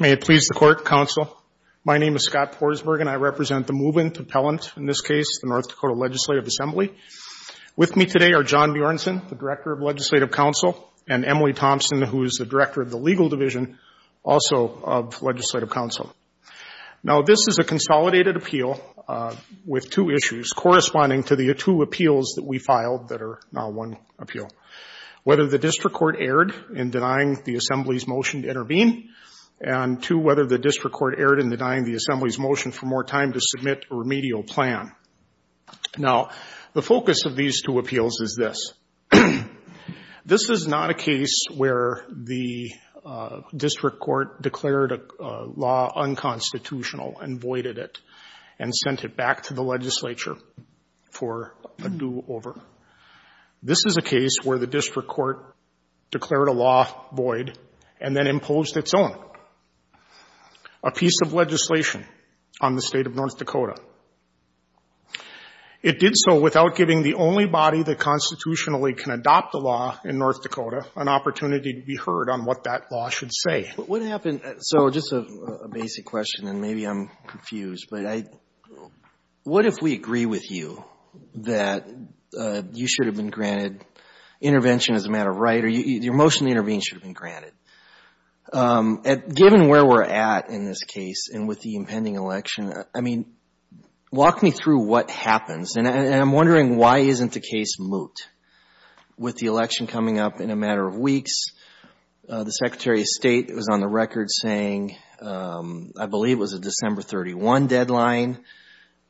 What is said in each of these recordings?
May it please the Court, Counsel. My name is Scott Porzberg and I represent the Movement Appellant, in this case, the North Dakota Legislative Assembly. With me today are John Bjornsson, the Director of Legislative Counsel, and Emily Thompson, who is the Director of the Legal Division, also of Legislative Counsel. Now this is a consolidated appeal with two issues corresponding to the two appeals that we filed that are now one appeal. Whether the District Court erred in denying the Assembly's motion to intervene, and two, whether the District Court erred in denying the Assembly's motion for more time to submit a remedial plan. Now, the focus of these two appeals is this. This is not a case where the District Court declared a law unconstitutional and voided it and sent it back to the Legislature for a do-over. This is a case where the District Court declared a law void and then imposed its own. A piece of legislation on the State of North Dakota. It did so without giving the only body that constitutionally can adopt a law in North Dakota an opportunity to be heard on what that law should say. But what happened? So just a basic question, and maybe I'm confused, but what if we agree with you that you should have been granted intervention as a matter of right or your motion to intervene should have been granted? Given where we're at in this case and with the impending election, walk me through what happens. And I'm wondering why isn't the case moot? With the election coming up in a matter of weeks, the Secretary of State was on the record saying I believe it was a December 31 deadline.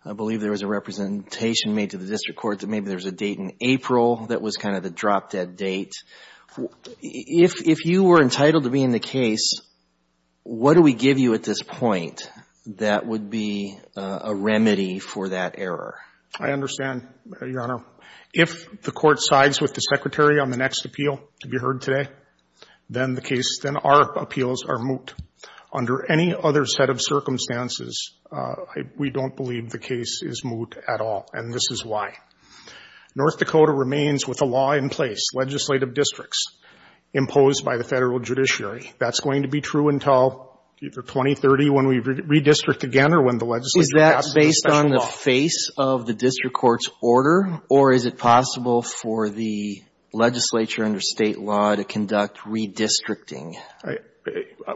I believe there was a presentation made to the District Court that maybe there was a date in April that was kind of the drop-dead date. If you were entitled to be in the case, what do we give you at this point that would be a remedy for that error? I understand, Your Honor. If the Court sides with the Secretary on the next appeal to be heard today, then the case, then our appeals are moot. Under any other set of circumstances, we don't believe the case is moot at all, and this is why. North Dakota remains with a law in place, legislative districts, imposed by the Federal Judiciary. That's going to be true until either 2030 when we redistrict again or when the legislature passes a special law. Is that based on the face of the District Court's order, or is it possible for the legislature under State law to conduct redistricting?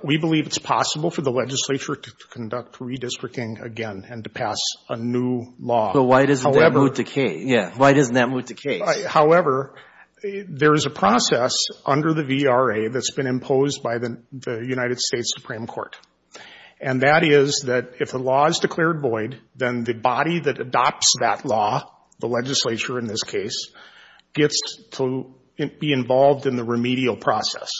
We believe it's possible for the legislature to conduct redistricting again and to pass a new law. But why doesn't that moot the case? However, there is a process under the VRA that's been imposed by the United States Supreme Court, and that is that if the law is declared void, then the body that adopts that law, the legislature in this case, gets to be involved in the remedial process.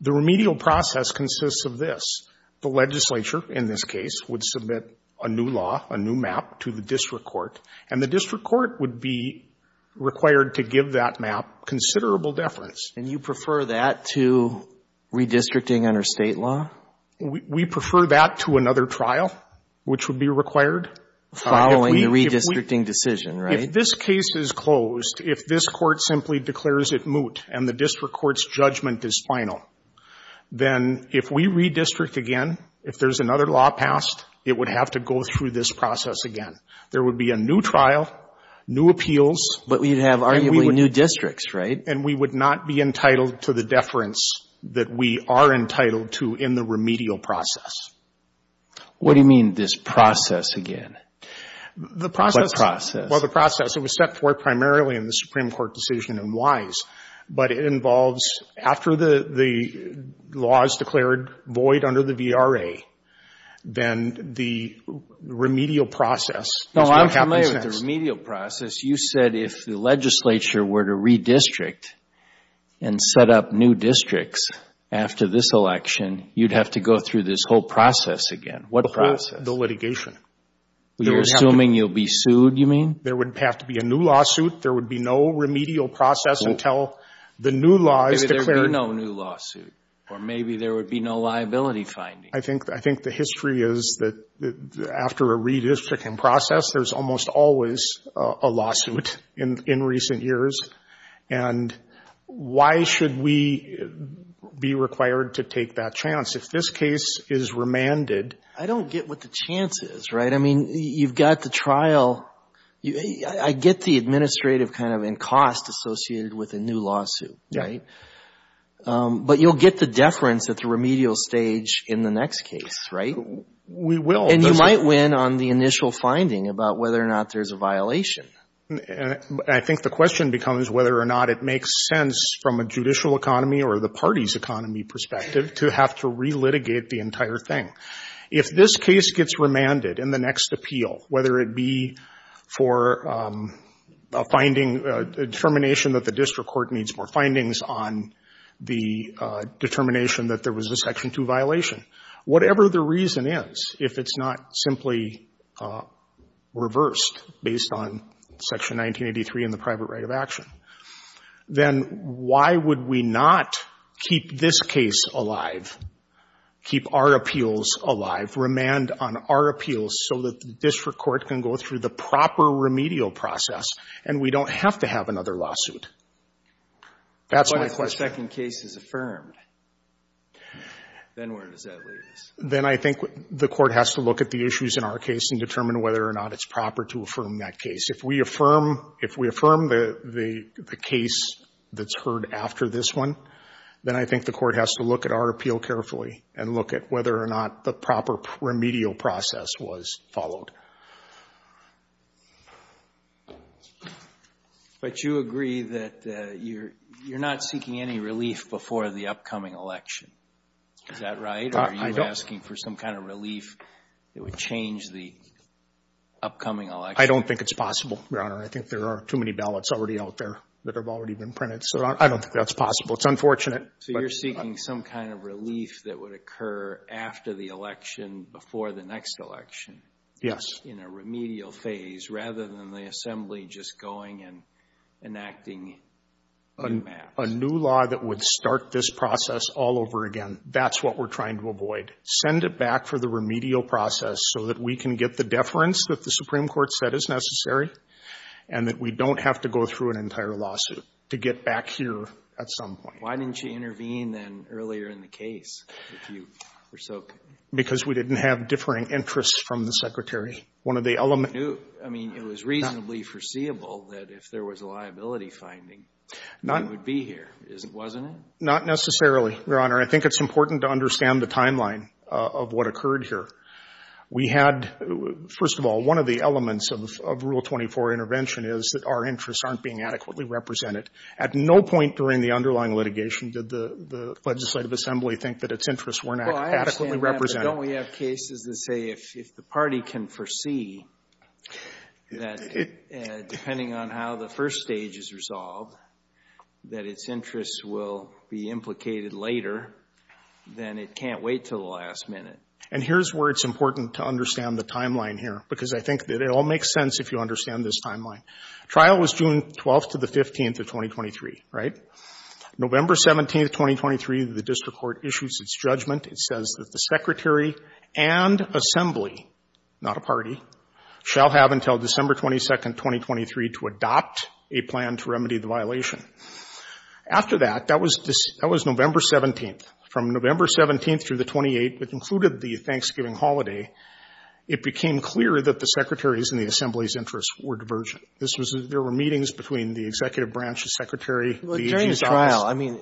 The remedial process consists of this. The legislature in this case would submit a new law, a new map to the District Court, and the District Court would be required to give that map considerable deference. And you prefer that to redistricting under State law? We prefer that to another trial, which would be required. Following the redistricting decision, right? If this case is closed, if this court simply declares it moot and the District Court's judgment is final, then if we redistrict again, if there's another law passed, it would have to go through this process again. There would be a new trial, new appeals. But we'd have arguably new districts, right? And we would not be entitled to the deference that we are entitled to in the remedial process. What do you mean this process again? What process? Well, the process was set forth primarily in the Supreme Court decision in Wise, but it involves after the law is declared void under the VRA, then the remedial process is what happens next. No, I'm familiar with the remedial process. You said if the legislature were to redistrict and set up new districts after this election, you'd have to go through this whole process again. What process? The litigation. You're assuming you'll be sued, you mean? There would have to be a new lawsuit. There would be no remedial process until the new law is declared. Maybe there would be no new lawsuit. Or maybe there would be no liability finding. I think the history is that after a redistricting process, there's almost always a lawsuit in recent years. And why should we be required to take that chance if this case is remanded? I don't get what the chance is, right? I mean, you've got the trial. I get the administrative kind of cost associated with a new lawsuit, right? But you'll get the deference at the remedial stage in the next case, right? We will. And you might win on the initial finding about whether or not there's a violation. I think the question becomes whether or not it makes sense from a judicial economy or the party's economy perspective to have to relitigate the entire thing. If this case gets remanded in the next appeal, whether it be for a finding, a determination that the district court needs more findings on the determination that there was a Section 2 violation, whatever the reason is, if it's not simply reversed based on Section 1983 and the private right of action, then why would we not keep this case alive, keep our appeals alive, remand on our appeals so that the district court can go through the proper remedial process and we don't have to have another lawsuit? That's my question. But if a second case is affirmed, then where does that leave us? Then I think the court has to look at the issues in our case and determine whether or not it's proper to affirm that case. If we affirm the case that's heard after this one, then I think the court has to look at our appeal carefully and look at whether or not the proper remedial process was followed. But you agree that you're not seeking any relief before the upcoming election. Is that right? Or are you asking for some kind of relief that would change the upcoming election? I don't think it's possible, Your Honor. I think there are too many ballots already out there that have already been printed. So I don't think that's possible. It's unfortunate. So you're seeking some kind of relief that would occur after the election, before the next election? Yes. In a remedial phase rather than the Assembly just going and enacting new maps? A new law that would start this process all over again. That's what we're trying to avoid. Send it back for the remedial process so that we can get the deference that the Supreme Court said is necessary and that we don't have to go through an entire lawsuit to get back here at some point. Why didn't you intervene then earlier in the case? Because we didn't have differing interests from the Secretary. It was reasonably foreseeable that if there was a liability finding we would be here, wasn't it? Not necessarily, Your Honor. I think it's important to understand the timeline of what occurred here. We had, first of all, one of the elements of Rule 24 intervention is that our interests aren't being adequately represented. At no point during the underlying litigation did the legislative assembly think that its interests weren't adequately represented. Well, I understand that, but don't we have cases that say if the party can foresee that depending on how the first stage is resolved, that its interests will be implicated later, then it can't wait until the last minute. And here's where it's important to understand the timeline here, because I think that it all makes sense if you understand this timeline. Trial was June 12th to the 15th of 2023, right? November 17th, 2023, the district court issues its judgment. It says that the Secretary and assembly, not a party, shall have until December 22nd, 2023, to adopt a plan to remedy the violation. After that, that was November 17th. From November 17th through the 28th, which included the Thanksgiving holiday, it became clear that the Secretary's and the assembly's interests were divergent. This was the — there were meetings between the executive branch, the Secretary, the agency office. Well, during the trial, I mean,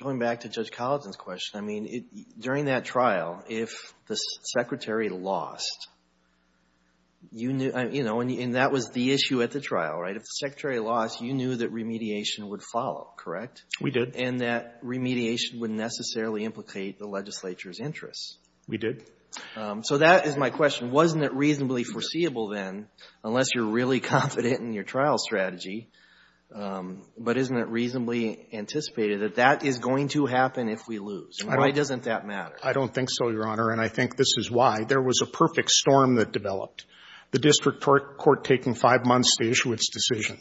going back to Judge Collins' question, I mean, during that trial, if the Secretary lost, you knew — you know, and that was the issue at the trial, right? If the Secretary lost, you knew that remediation would follow, correct? We did. And that remediation wouldn't necessarily implicate the legislature's interests. We did. So that is my question. Wasn't it reasonably foreseeable then, unless you're really confident in your trial strategy, but isn't it reasonably anticipated that that is going to happen if we lose? And why doesn't that matter? I don't think so, Your Honor, and I think this is why. There was a perfect storm that developed, the district court taking five months to issue its decision.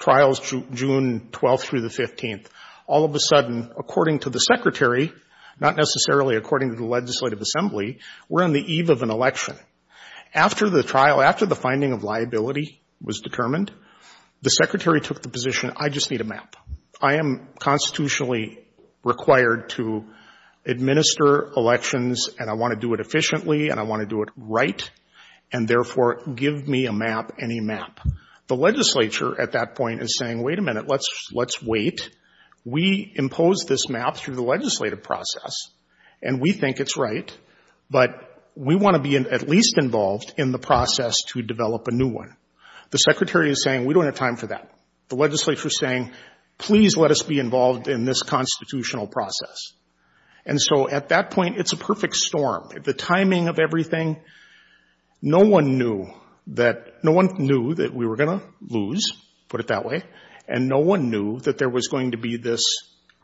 Trials, June 12th through the 15th. All of a sudden, according to the Secretary, not necessarily according to the legislative assembly, we're on the eve of an election. After the trial, after the finding of liability was determined, the Secretary took the position, I just need a map. I am constitutionally required to administer elections, and I want to do it efficiently, and I want to do it right, and therefore give me a map, any map. The legislature at that point is saying, wait a minute, let's wait. We impose this map through the legislative process, and we think it's right, but we want to be in at least involved in the process to develop a new one. The Secretary is saying, we don't have time for that. The legislature is saying, please let us be involved in this constitutional process. And so at that point, it's a perfect storm. The timing of everything, no one knew that, no one knew that we were going to lose, put it that way, and no one knew that there was going to be this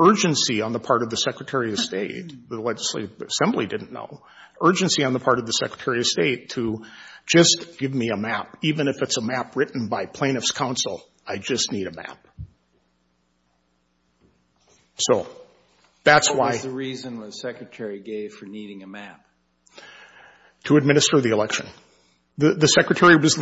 urgency on the part of the Secretary of State, the legislative assembly didn't know, urgency on the part of the Secretary of State to just give me a map. Even if it's a map written by plaintiff's counsel, I just need a map. So, that's why. What was the reason the Secretary gave for needing a map? To administer the election. The Secretary was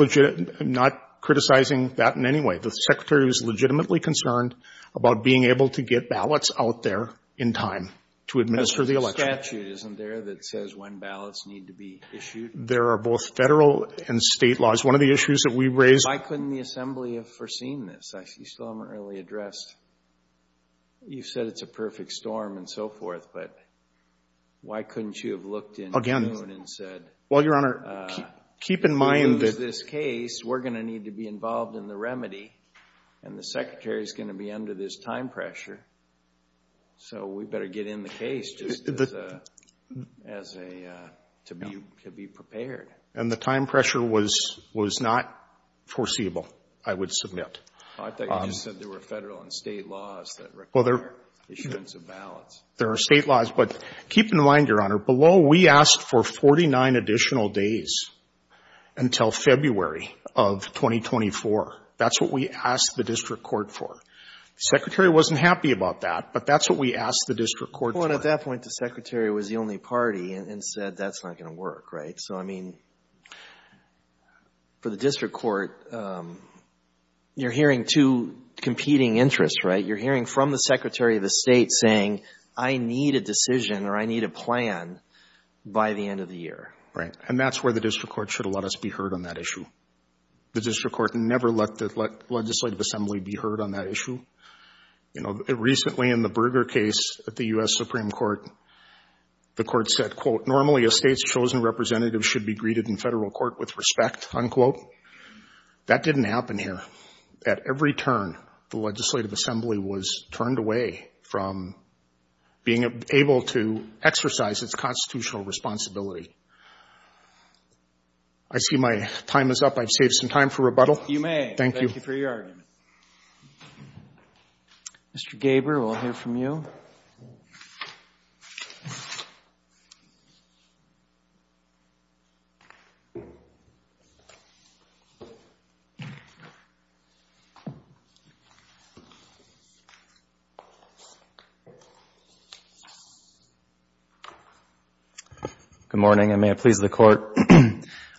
not criticizing that in any way. The Secretary was legitimately concerned about being able to get ballots out there in time to administer the election. There's a statute, isn't there, that says when ballots need to be issued? There are both Federal and State laws. One of the issues that we raised Why couldn't the assembly have foreseen this? You still haven't really addressed You've said it's a perfect storm and so forth, but why couldn't you have looked in June and said Well, Your Honor, keep in mind that We lose this case, we're going to need to be involved in the remedy, and the Secretary is going to be under this time pressure, so we better get in the case just to be prepared. And the time pressure was not foreseeable, I would submit. I thought you just said there were Federal and State laws that require issuance of ballots. There are State laws, but keep in mind, Your Honor, below we asked for 49 additional days until February of 2024. That's what we asked the district court for. The Secretary wasn't happy about that, but that's what we asked the district court for. Well, and at that point, the Secretary was the only party and said that's not going to work, right? So, I mean, for the district court, you're hearing two competing interests, right? You're hearing from the Secretary of the State saying, I need a decision or I need a plan by the end of the year. Right. And that's where the district court should have let us be heard on that issue. The district court never let the legislative assembly be heard on that issue. You know, recently in the Berger case at the U.S. Supreme Court, the court said, quote, normally a State's chosen representative should be greeted in Federal court with respect, unquote. That didn't happen here. At every turn, the legislative assembly was turned away from being able to exercise its constitutional responsibility. I see my time is up. I've saved some time for rebuttal. You may. Thank you. Thank you for your argument. Mr. Gaber, we'll hear from you. Good morning, and may it please the Court.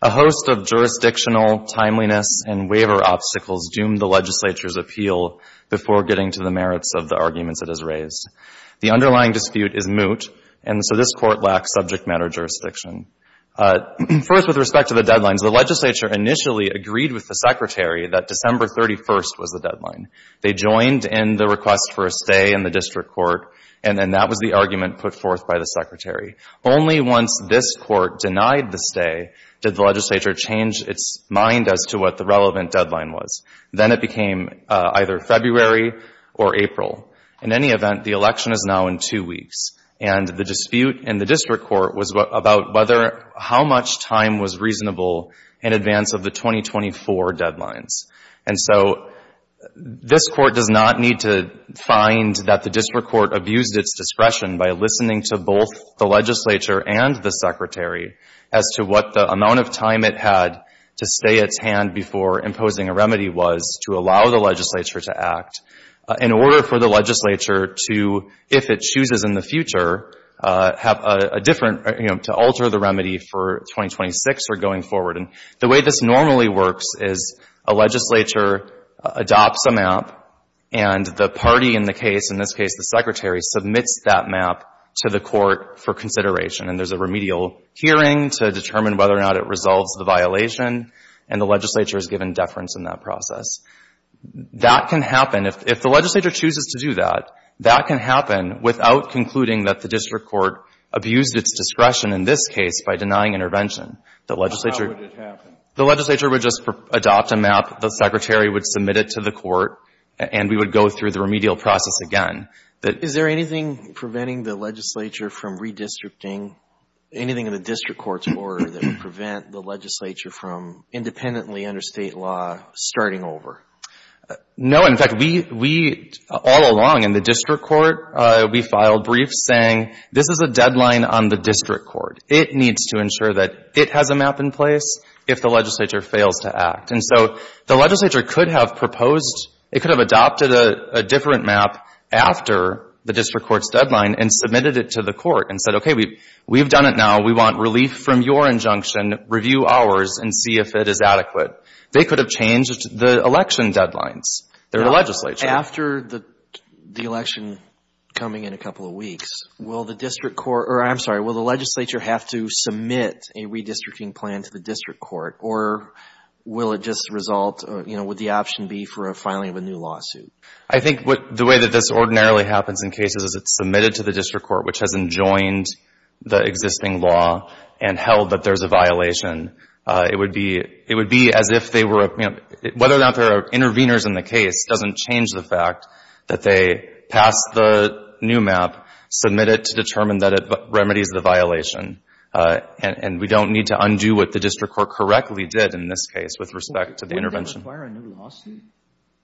A host of jurisdictional timeliness and waiver obstacles doomed the legislature's appeal before getting to the merits of the arguments it has raised. The underlying dispute is moot, and so this Court lacks subject matter jurisdiction. First, with respect to the deadlines, the legislature initially agreed with the Secretary that December 31st was the deadline. They joined in the request for a stay in the district court, and then that was the argument put forth by the Secretary. Only once this Court denied the stay did the legislature change its mind as to what the relevant deadline was. Then it became either February or April. In any event, the election is now in two weeks, and the dispute in the district court was about whether how much time was reasonable in advance of the 2024 deadlines. And so this Court does not need to find that the district court abused its discretion by listening to both the legislature and the Secretary as to what the amount of time it had to stay its hand before imposing a remedy was to allow the legislature to act. In order for the legislature to, if it chooses in the future, have a different, you know, to alter the remedy for 2026 or going forward. And the way this normally works is a legislature adopts a map, and the party in the case, in this case the Secretary, submits that map to the Court for consideration. And there's a remedial hearing to determine whether or not it resolves the violation, and the legislature is given deference in that process. That can happen, if the legislature chooses to do that, that can happen without concluding that the district court abused its discretion in this case by denying intervention. The legislature — So how would it happen? The legislature would just adopt a map, the Secretary would submit it to the Court, and we would go through the remedial process again. Is there anything preventing the legislature from redistricting, anything in the district court's order that would prevent the legislature from independently under State law starting over? In fact, we, all along in the district court, we filed briefs saying, this is a deadline on the district court. It needs to ensure that it has a map in place if the legislature fails to act. And so the legislature could have proposed, it could have adopted a different map after the district court's deadline and submitted it to the court and said, okay, we've done it now. We want relief from your injunction. Review ours and see if it is adequate. They could have changed the election deadlines. They're the legislature. After the election coming in a couple of weeks, will the district court — or, I'm sorry, will the legislature have to submit a redistricting plan to the district court, or will it just result — would the option be for a filing of a new lawsuit? I think the way that this ordinarily happens in cases is it's submitted to the district court, which has enjoined the existing law and held that there's a violation. It would be as if they were — whether or not there are interveners in the case doesn't change the fact that they pass the new map, submit it to determine that it remedies the violation. And we don't need to undo what the district court correctly did in this case with respect to the intervention. Wouldn't that require a new lawsuit?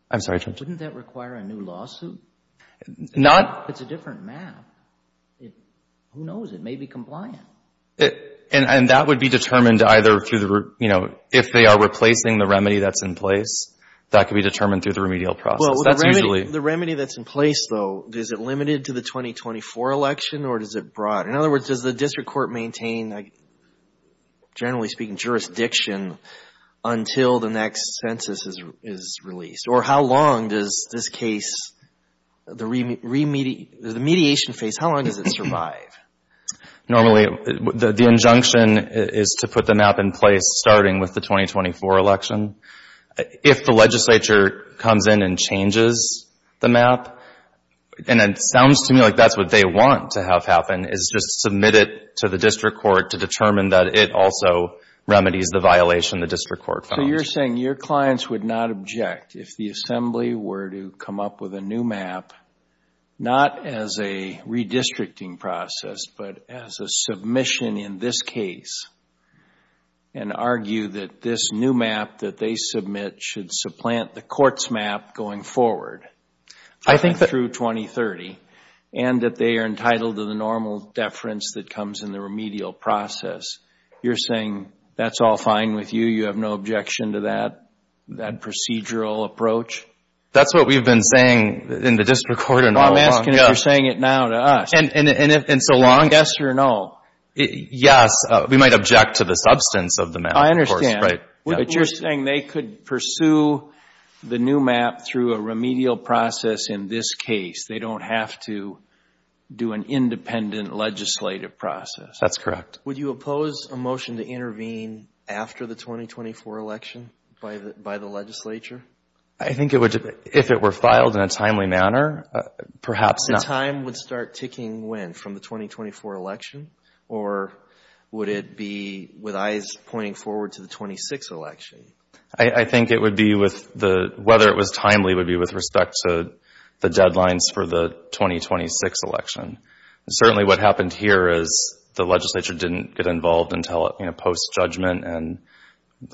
I'm sorry, Judge? Wouldn't that require a new lawsuit? Not — It's a different map. Who knows? It may be compliant. And that would be determined either through the — you know, if they are replacing the remedy that's in place, that could be determined through the remedial process. That's usually — Well, the remedy that's in place, though, is it limited to the 2024 election, or is it broad? In other words, does the district court maintain, generally speaking, jurisdiction until the next census is released? Or how long does this case, the remediation phase, how long does it survive? Normally, the injunction is to put the map in place starting with the 2024 election. If the legislature comes in and changes the map, and it sounds to me like that's what they want to have happen, is just submit it to the district court to determine that it also remedies the violation the district court found. So you're saying your clients would not object if the assembly were to come up with a new map, not as a redistricting process, but as a submission in this case, and argue that this new map that they submit should supplant the court's map going forward — I think that —— through 2030, and that they are entitled to the normal deference that comes in the remedial process. You're saying that's all fine with you, you have no objection to that procedural approach? That's what we've been saying in the district court all along. I'm asking if you're saying it now to us. And so long — Yes or no? Yes. We might object to the substance of the map, of course. Right. But you're saying they could pursue the new map through a remedial process in this case. They don't have to do an independent legislative process. That's correct. Would you oppose a motion to intervene after the 2024 election by the legislature? I think it would — if it were filed in a timely manner, perhaps not. The time would start ticking when, from the 2024 election? Or would it be with eyes pointing forward to the 2026 election? I think it would be with the — whether it was timely would be with respect to the deadlines for the 2026 election. Certainly what happened here is the legislature didn't get involved until post-judgment.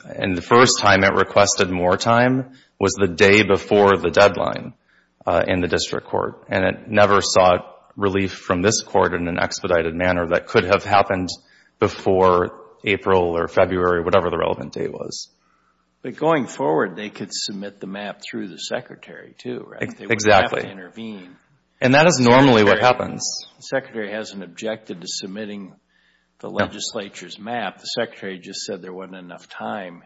And the first time it requested more time was the day before the deadline in the district court. And it never sought relief from this court in an expedited manner that could have happened before April or February, whatever the relevant date was. But going forward, they could submit the map through the secretary, too, right? Exactly. They would have to intervene. And that is normally what happens. The secretary hasn't objected to submitting the legislature's map. The secretary just said there wasn't enough time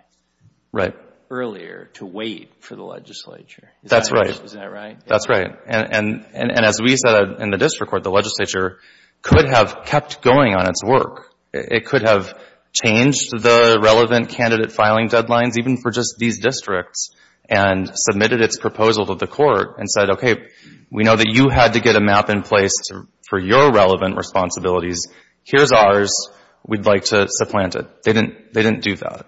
earlier to wait for the legislature. That's right. Isn't that right? That's right. And as we said in the district court, the legislature could have kept going on its work. It could have changed the relevant candidate filing deadlines, even for just these districts, and submitted its proposal to the court and said, okay, we know that you had to get a map in place for your relevant responsibilities. Here's ours. We'd like to supplant it. They didn't do that.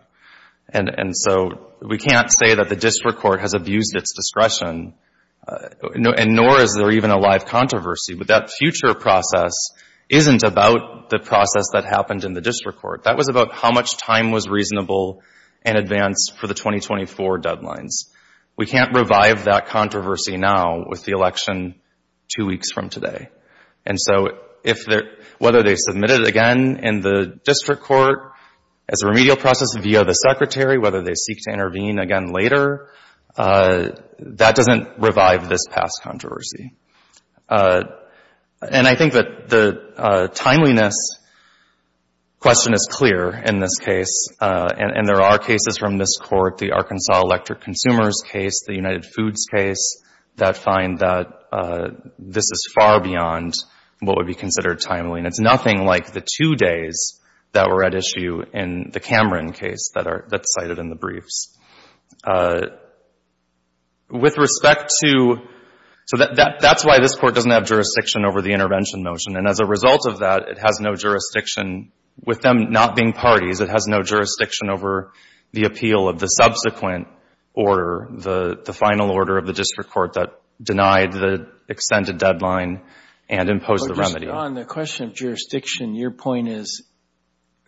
And so we can't say that the district court has abused its discretion, nor is there even a live controversy. But that future process isn't about the process that happened in the district court. That was about how much time was reasonable in advance for the 2024 deadlines. We can't revive that controversy now with the election two weeks from today. And so whether they submit it again in the district court as a remedial process via the secretary, whether they seek to intervene again later, that doesn't revive this past controversy. And I think that the timeliness question is clear in this case. And there are cases from this court, the Arkansas Electric Consumers case, the United Foods case, that find that this is far beyond what would be considered timely. And it's nothing like the two days that were at issue in the Cameron case that's cited in the briefs. With respect to so that's why this court doesn't have jurisdiction over the intervention motion. And as a result of that, it has no jurisdiction with them not being parties. It has no jurisdiction over the appeal of the subsequent order, the final order of the district court that denied the extended deadline and imposed the remedy. But just on the question of jurisdiction, your point is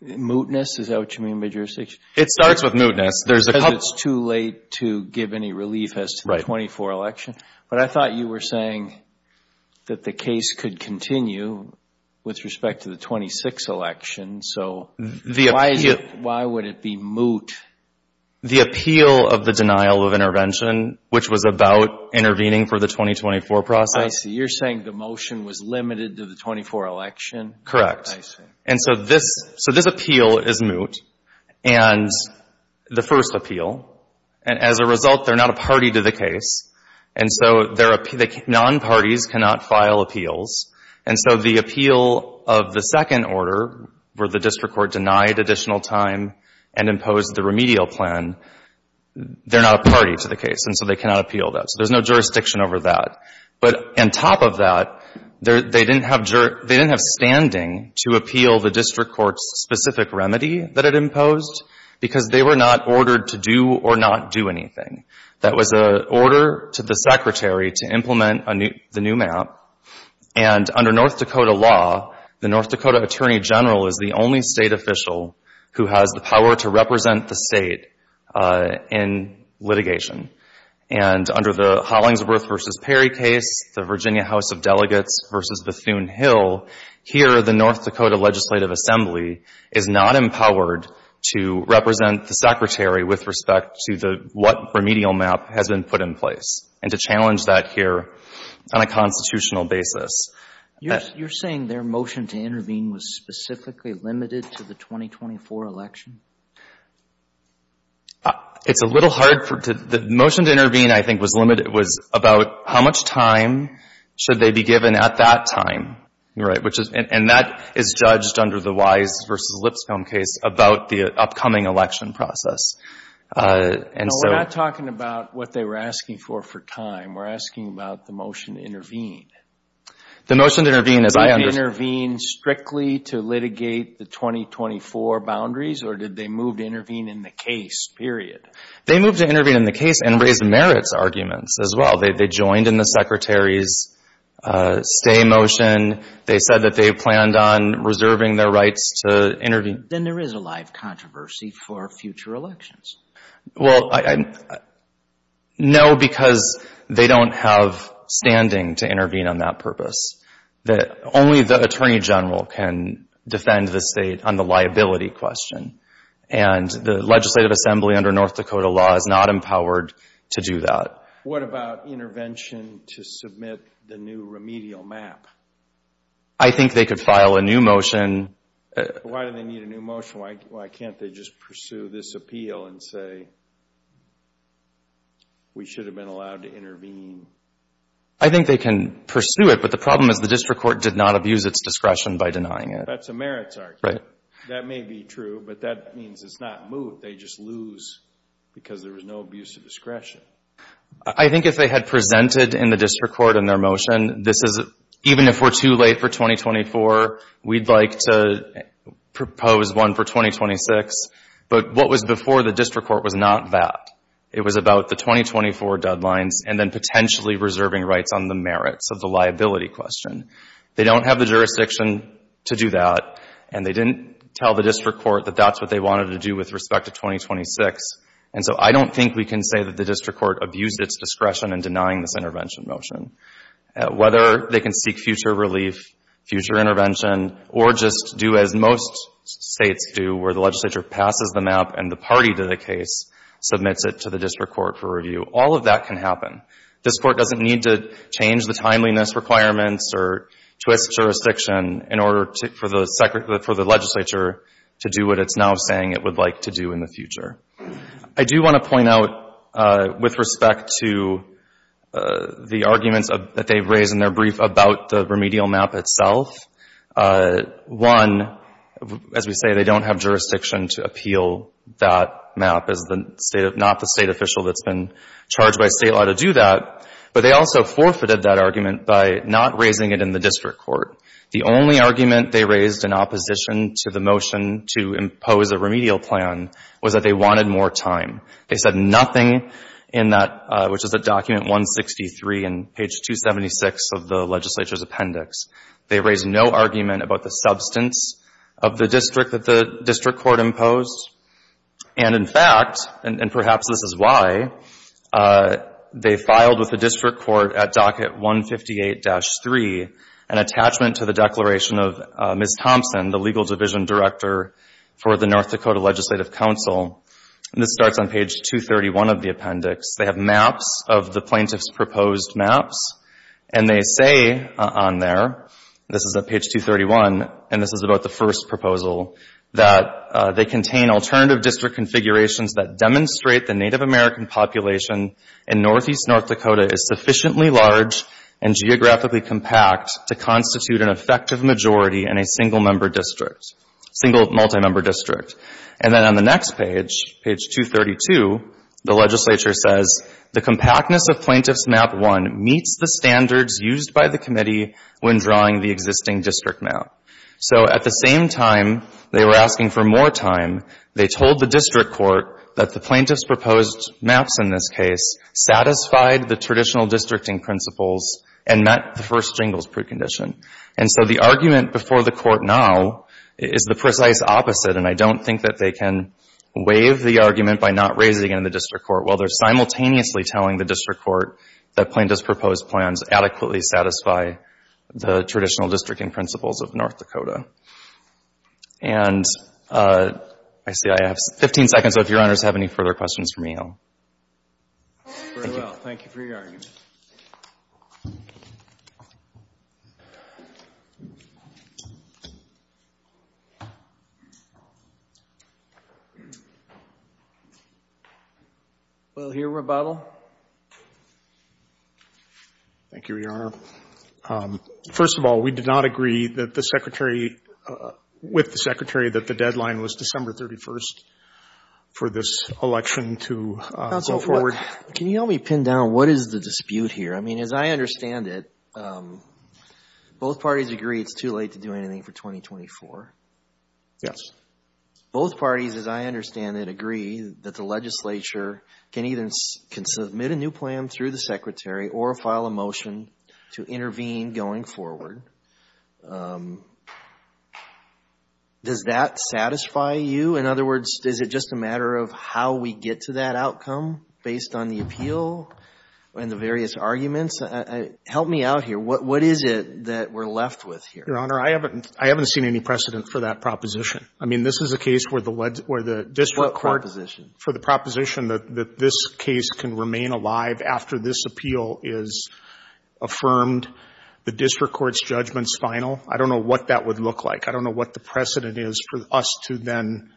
mootness? Is that what you mean by jurisdiction? It starts with mootness. Because it's too late to give any relief as to the 24 election. But I thought you were saying that the case could continue with respect to the 26 election. So why would it be moot? The appeal of the denial of intervention, which was about intervening for the 2024 process. I see. You're saying the motion was limited to the 24 election? Correct. I see. And so this, so this appeal is moot. And the first appeal. And as a result, they're not a party to the case. And so their non-parties cannot file appeals. And so the appeal of the second order where the district court denied additional time and imposed the remedial plan, they're not a party to the case. And so they cannot appeal that. So there's no jurisdiction over that. But on top of that, they didn't have standing to appeal the district court's specific remedy that it imposed because they were not ordered to do or not do anything. That was an order to the secretary to implement the new map. And under North Dakota law, the North Dakota Attorney General is the only state official who has the power to represent the state in litigation. And under the Hollingsworth v. Perry case, the Virginia House of Delegates v. Bethune Hill, here the North Dakota Legislative Assembly is not empowered to represent the secretary with respect to what remedial map has been put in place and to challenge that here on a constitutional basis. You're saying their motion to intervene was specifically limited to the 2024 election? It's a little hard. The motion to intervene, I think, was limited. It was about how much time should they be given at that time, right? And that is judged under the Wise v. Lipscomb case about the upcoming election process. No, we're not talking about what they were asking for for time. We're asking about the motion to intervene. The motion to intervene is I understand. Did they intervene strictly to litigate the 2024 boundaries, or did they move to intervene in the case, period? They moved to intervene in the case and raised merits arguments as well. They joined in the secretary's stay motion. They said that they planned on reserving their rights to intervene. Then there is a live controversy for future elections. Well, no, because they don't have standing to intervene on that purpose. Only the Attorney General can defend the state on the liability question, and the Legislative Assembly under North Dakota law is not empowered to do that. What about intervention to submit the new remedial map? I think they could file a new motion. Why do they need a new motion? Why can't they just pursue this appeal and say, we should have been allowed to intervene? I think they can pursue it, but the problem is the district court did not abuse its discretion by denying it. That's a merits argument. That may be true, but that means it's not moved. They just lose because there was no abuse of discretion. I think if they had presented in the district court in their motion, even if we're too late for 2024, we'd like to propose one for 2026. But what was before the district court was not that. It was about the 2024 deadlines and then potentially reserving rights on the merits of the liability question. They don't have the jurisdiction to do that, and they didn't tell the district court that that's what they wanted to do with respect to 2026. And so I don't think we can say that the district court abused its discretion in denying this intervention motion. Whether they can seek future relief, future intervention, or just do as most states do, where the legislature passes the map and the party to the case submits it to the district court for review. All of that can happen. District court doesn't need to change the timeliness requirements or twist jurisdiction in order for the legislature to do what it's now saying it would like to do in the future. I do want to point out, with respect to the arguments that they've raised in their brief about the remedial map itself, one, as we say, they don't have jurisdiction to appeal that map as not the state official that's been charged by state law to do that. But they also forfeited that argument by not raising it in the district court. The only argument they raised in opposition to the motion to impose a remedial plan was that they wanted more time. They said nothing in that, which is at document 163 and page 276 of the legislature's appendix. They raised no argument about the substance of the district that the district court imposed. And, in fact, and perhaps this is why, they filed with the district court at docket 158-3 an attachment to the declaration of Ms. Thompson, the legal division director for the North Dakota Legislative Council. This starts on page 231 of the appendix. They have maps of the plaintiff's proposed maps, and they say on there, this is at page 231, and this is about the first proposal, that they contain alternative district configurations that demonstrate the Native American population in northeast North Dakota is sufficiently large and geographically compact to constitute an effective majority in a single-member district, single multi-member district. And then on the next page, page 232, the legislature says, the compactness of Plaintiff's Map 1 meets the standards used by the committee when drawing the existing district map. So at the same time they were asking for more time, they told the district court that the plaintiff's proposed maps in this case satisfied the traditional districting principles and met the first jingles precondition. And so the argument before the court now is the precise opposite, and I don't think that they can waive the argument by not raising it in the district court. While they're simultaneously telling the district court that plaintiff's proposed plans adequately satisfy the traditional districting principles of North Dakota. And I see I have 15 seconds, so if your honors have any further questions for me, I'll... Very well. Thank you for your argument. We'll hear rebuttal. Thank you, Your Honor. First of all, we did not agree that the Secretary, with the Secretary, that the deadline was December 31st for this election to go forward. Can you help me pin down what is the dispute here? I mean, as I understand it, both parties agree it's too late to do anything for 2024. Yes. Both parties, as I understand it, agree that the legislature can either submit a new plan through the Secretary or file a motion to intervene going forward. Does that satisfy you? In other words, is it just a matter of how we get to that outcome based on the appeal and the various arguments? Help me out here. What is it that we're left with here? Your Honor, I haven't seen any precedent for that proposition. I mean, this is a case where the district court... For the proposition that this case can remain alive after this appeal is affirmed, the district court's judgment's final. I don't know what that would look like. I don't know what the precedent is for us to then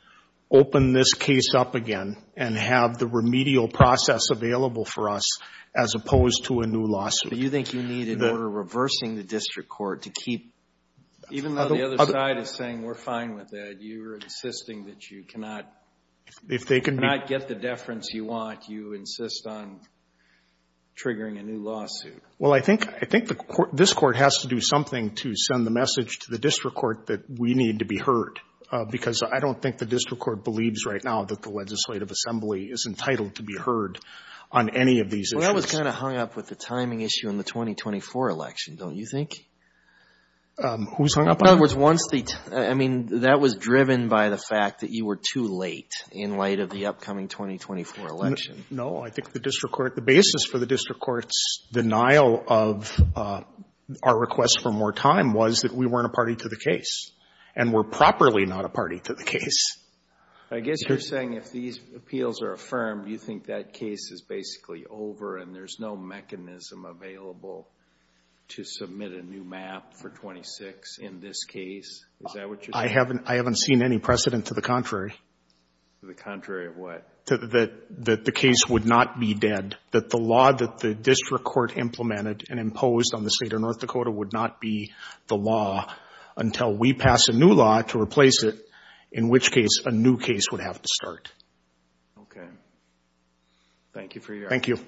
open this case up again and have the remedial process available for us as opposed to a new lawsuit. But you think you need an order reversing the district court to keep... Even though the other side is saying we're fine with that, you're insisting that you cannot... If they can be... If you cannot get the deference you want, you insist on triggering a new lawsuit. Well, I think this court has to do something to send the message to the district court that we need to be heard because I don't think the district court believes right now that the Legislative Assembly is entitled to be heard on any of these issues. Well, that was kind of hung up with the timing issue in the 2024 election, don't you think? Who's hung up on that? In other words, once the... I mean, that was driven by the fact that you were too late in light of the upcoming 2024 election. No. I think the district court, the basis for the district court's denial of our request for more time was that we weren't a party to the case and we're properly not a party to the case. I guess you're saying if these appeals are affirmed, you think that case is basically over and there's no mechanism available to submit a new map for 26 in this case. Is that what you're saying? I haven't seen any precedent to the contrary. To the contrary of what? That the case would not be dead. That the law that the district court implemented and imposed on the state of North Dakota would not be the law until we pass a new law to replace it, in which case a new case would have to start. Okay. Thank you for your... Thank you.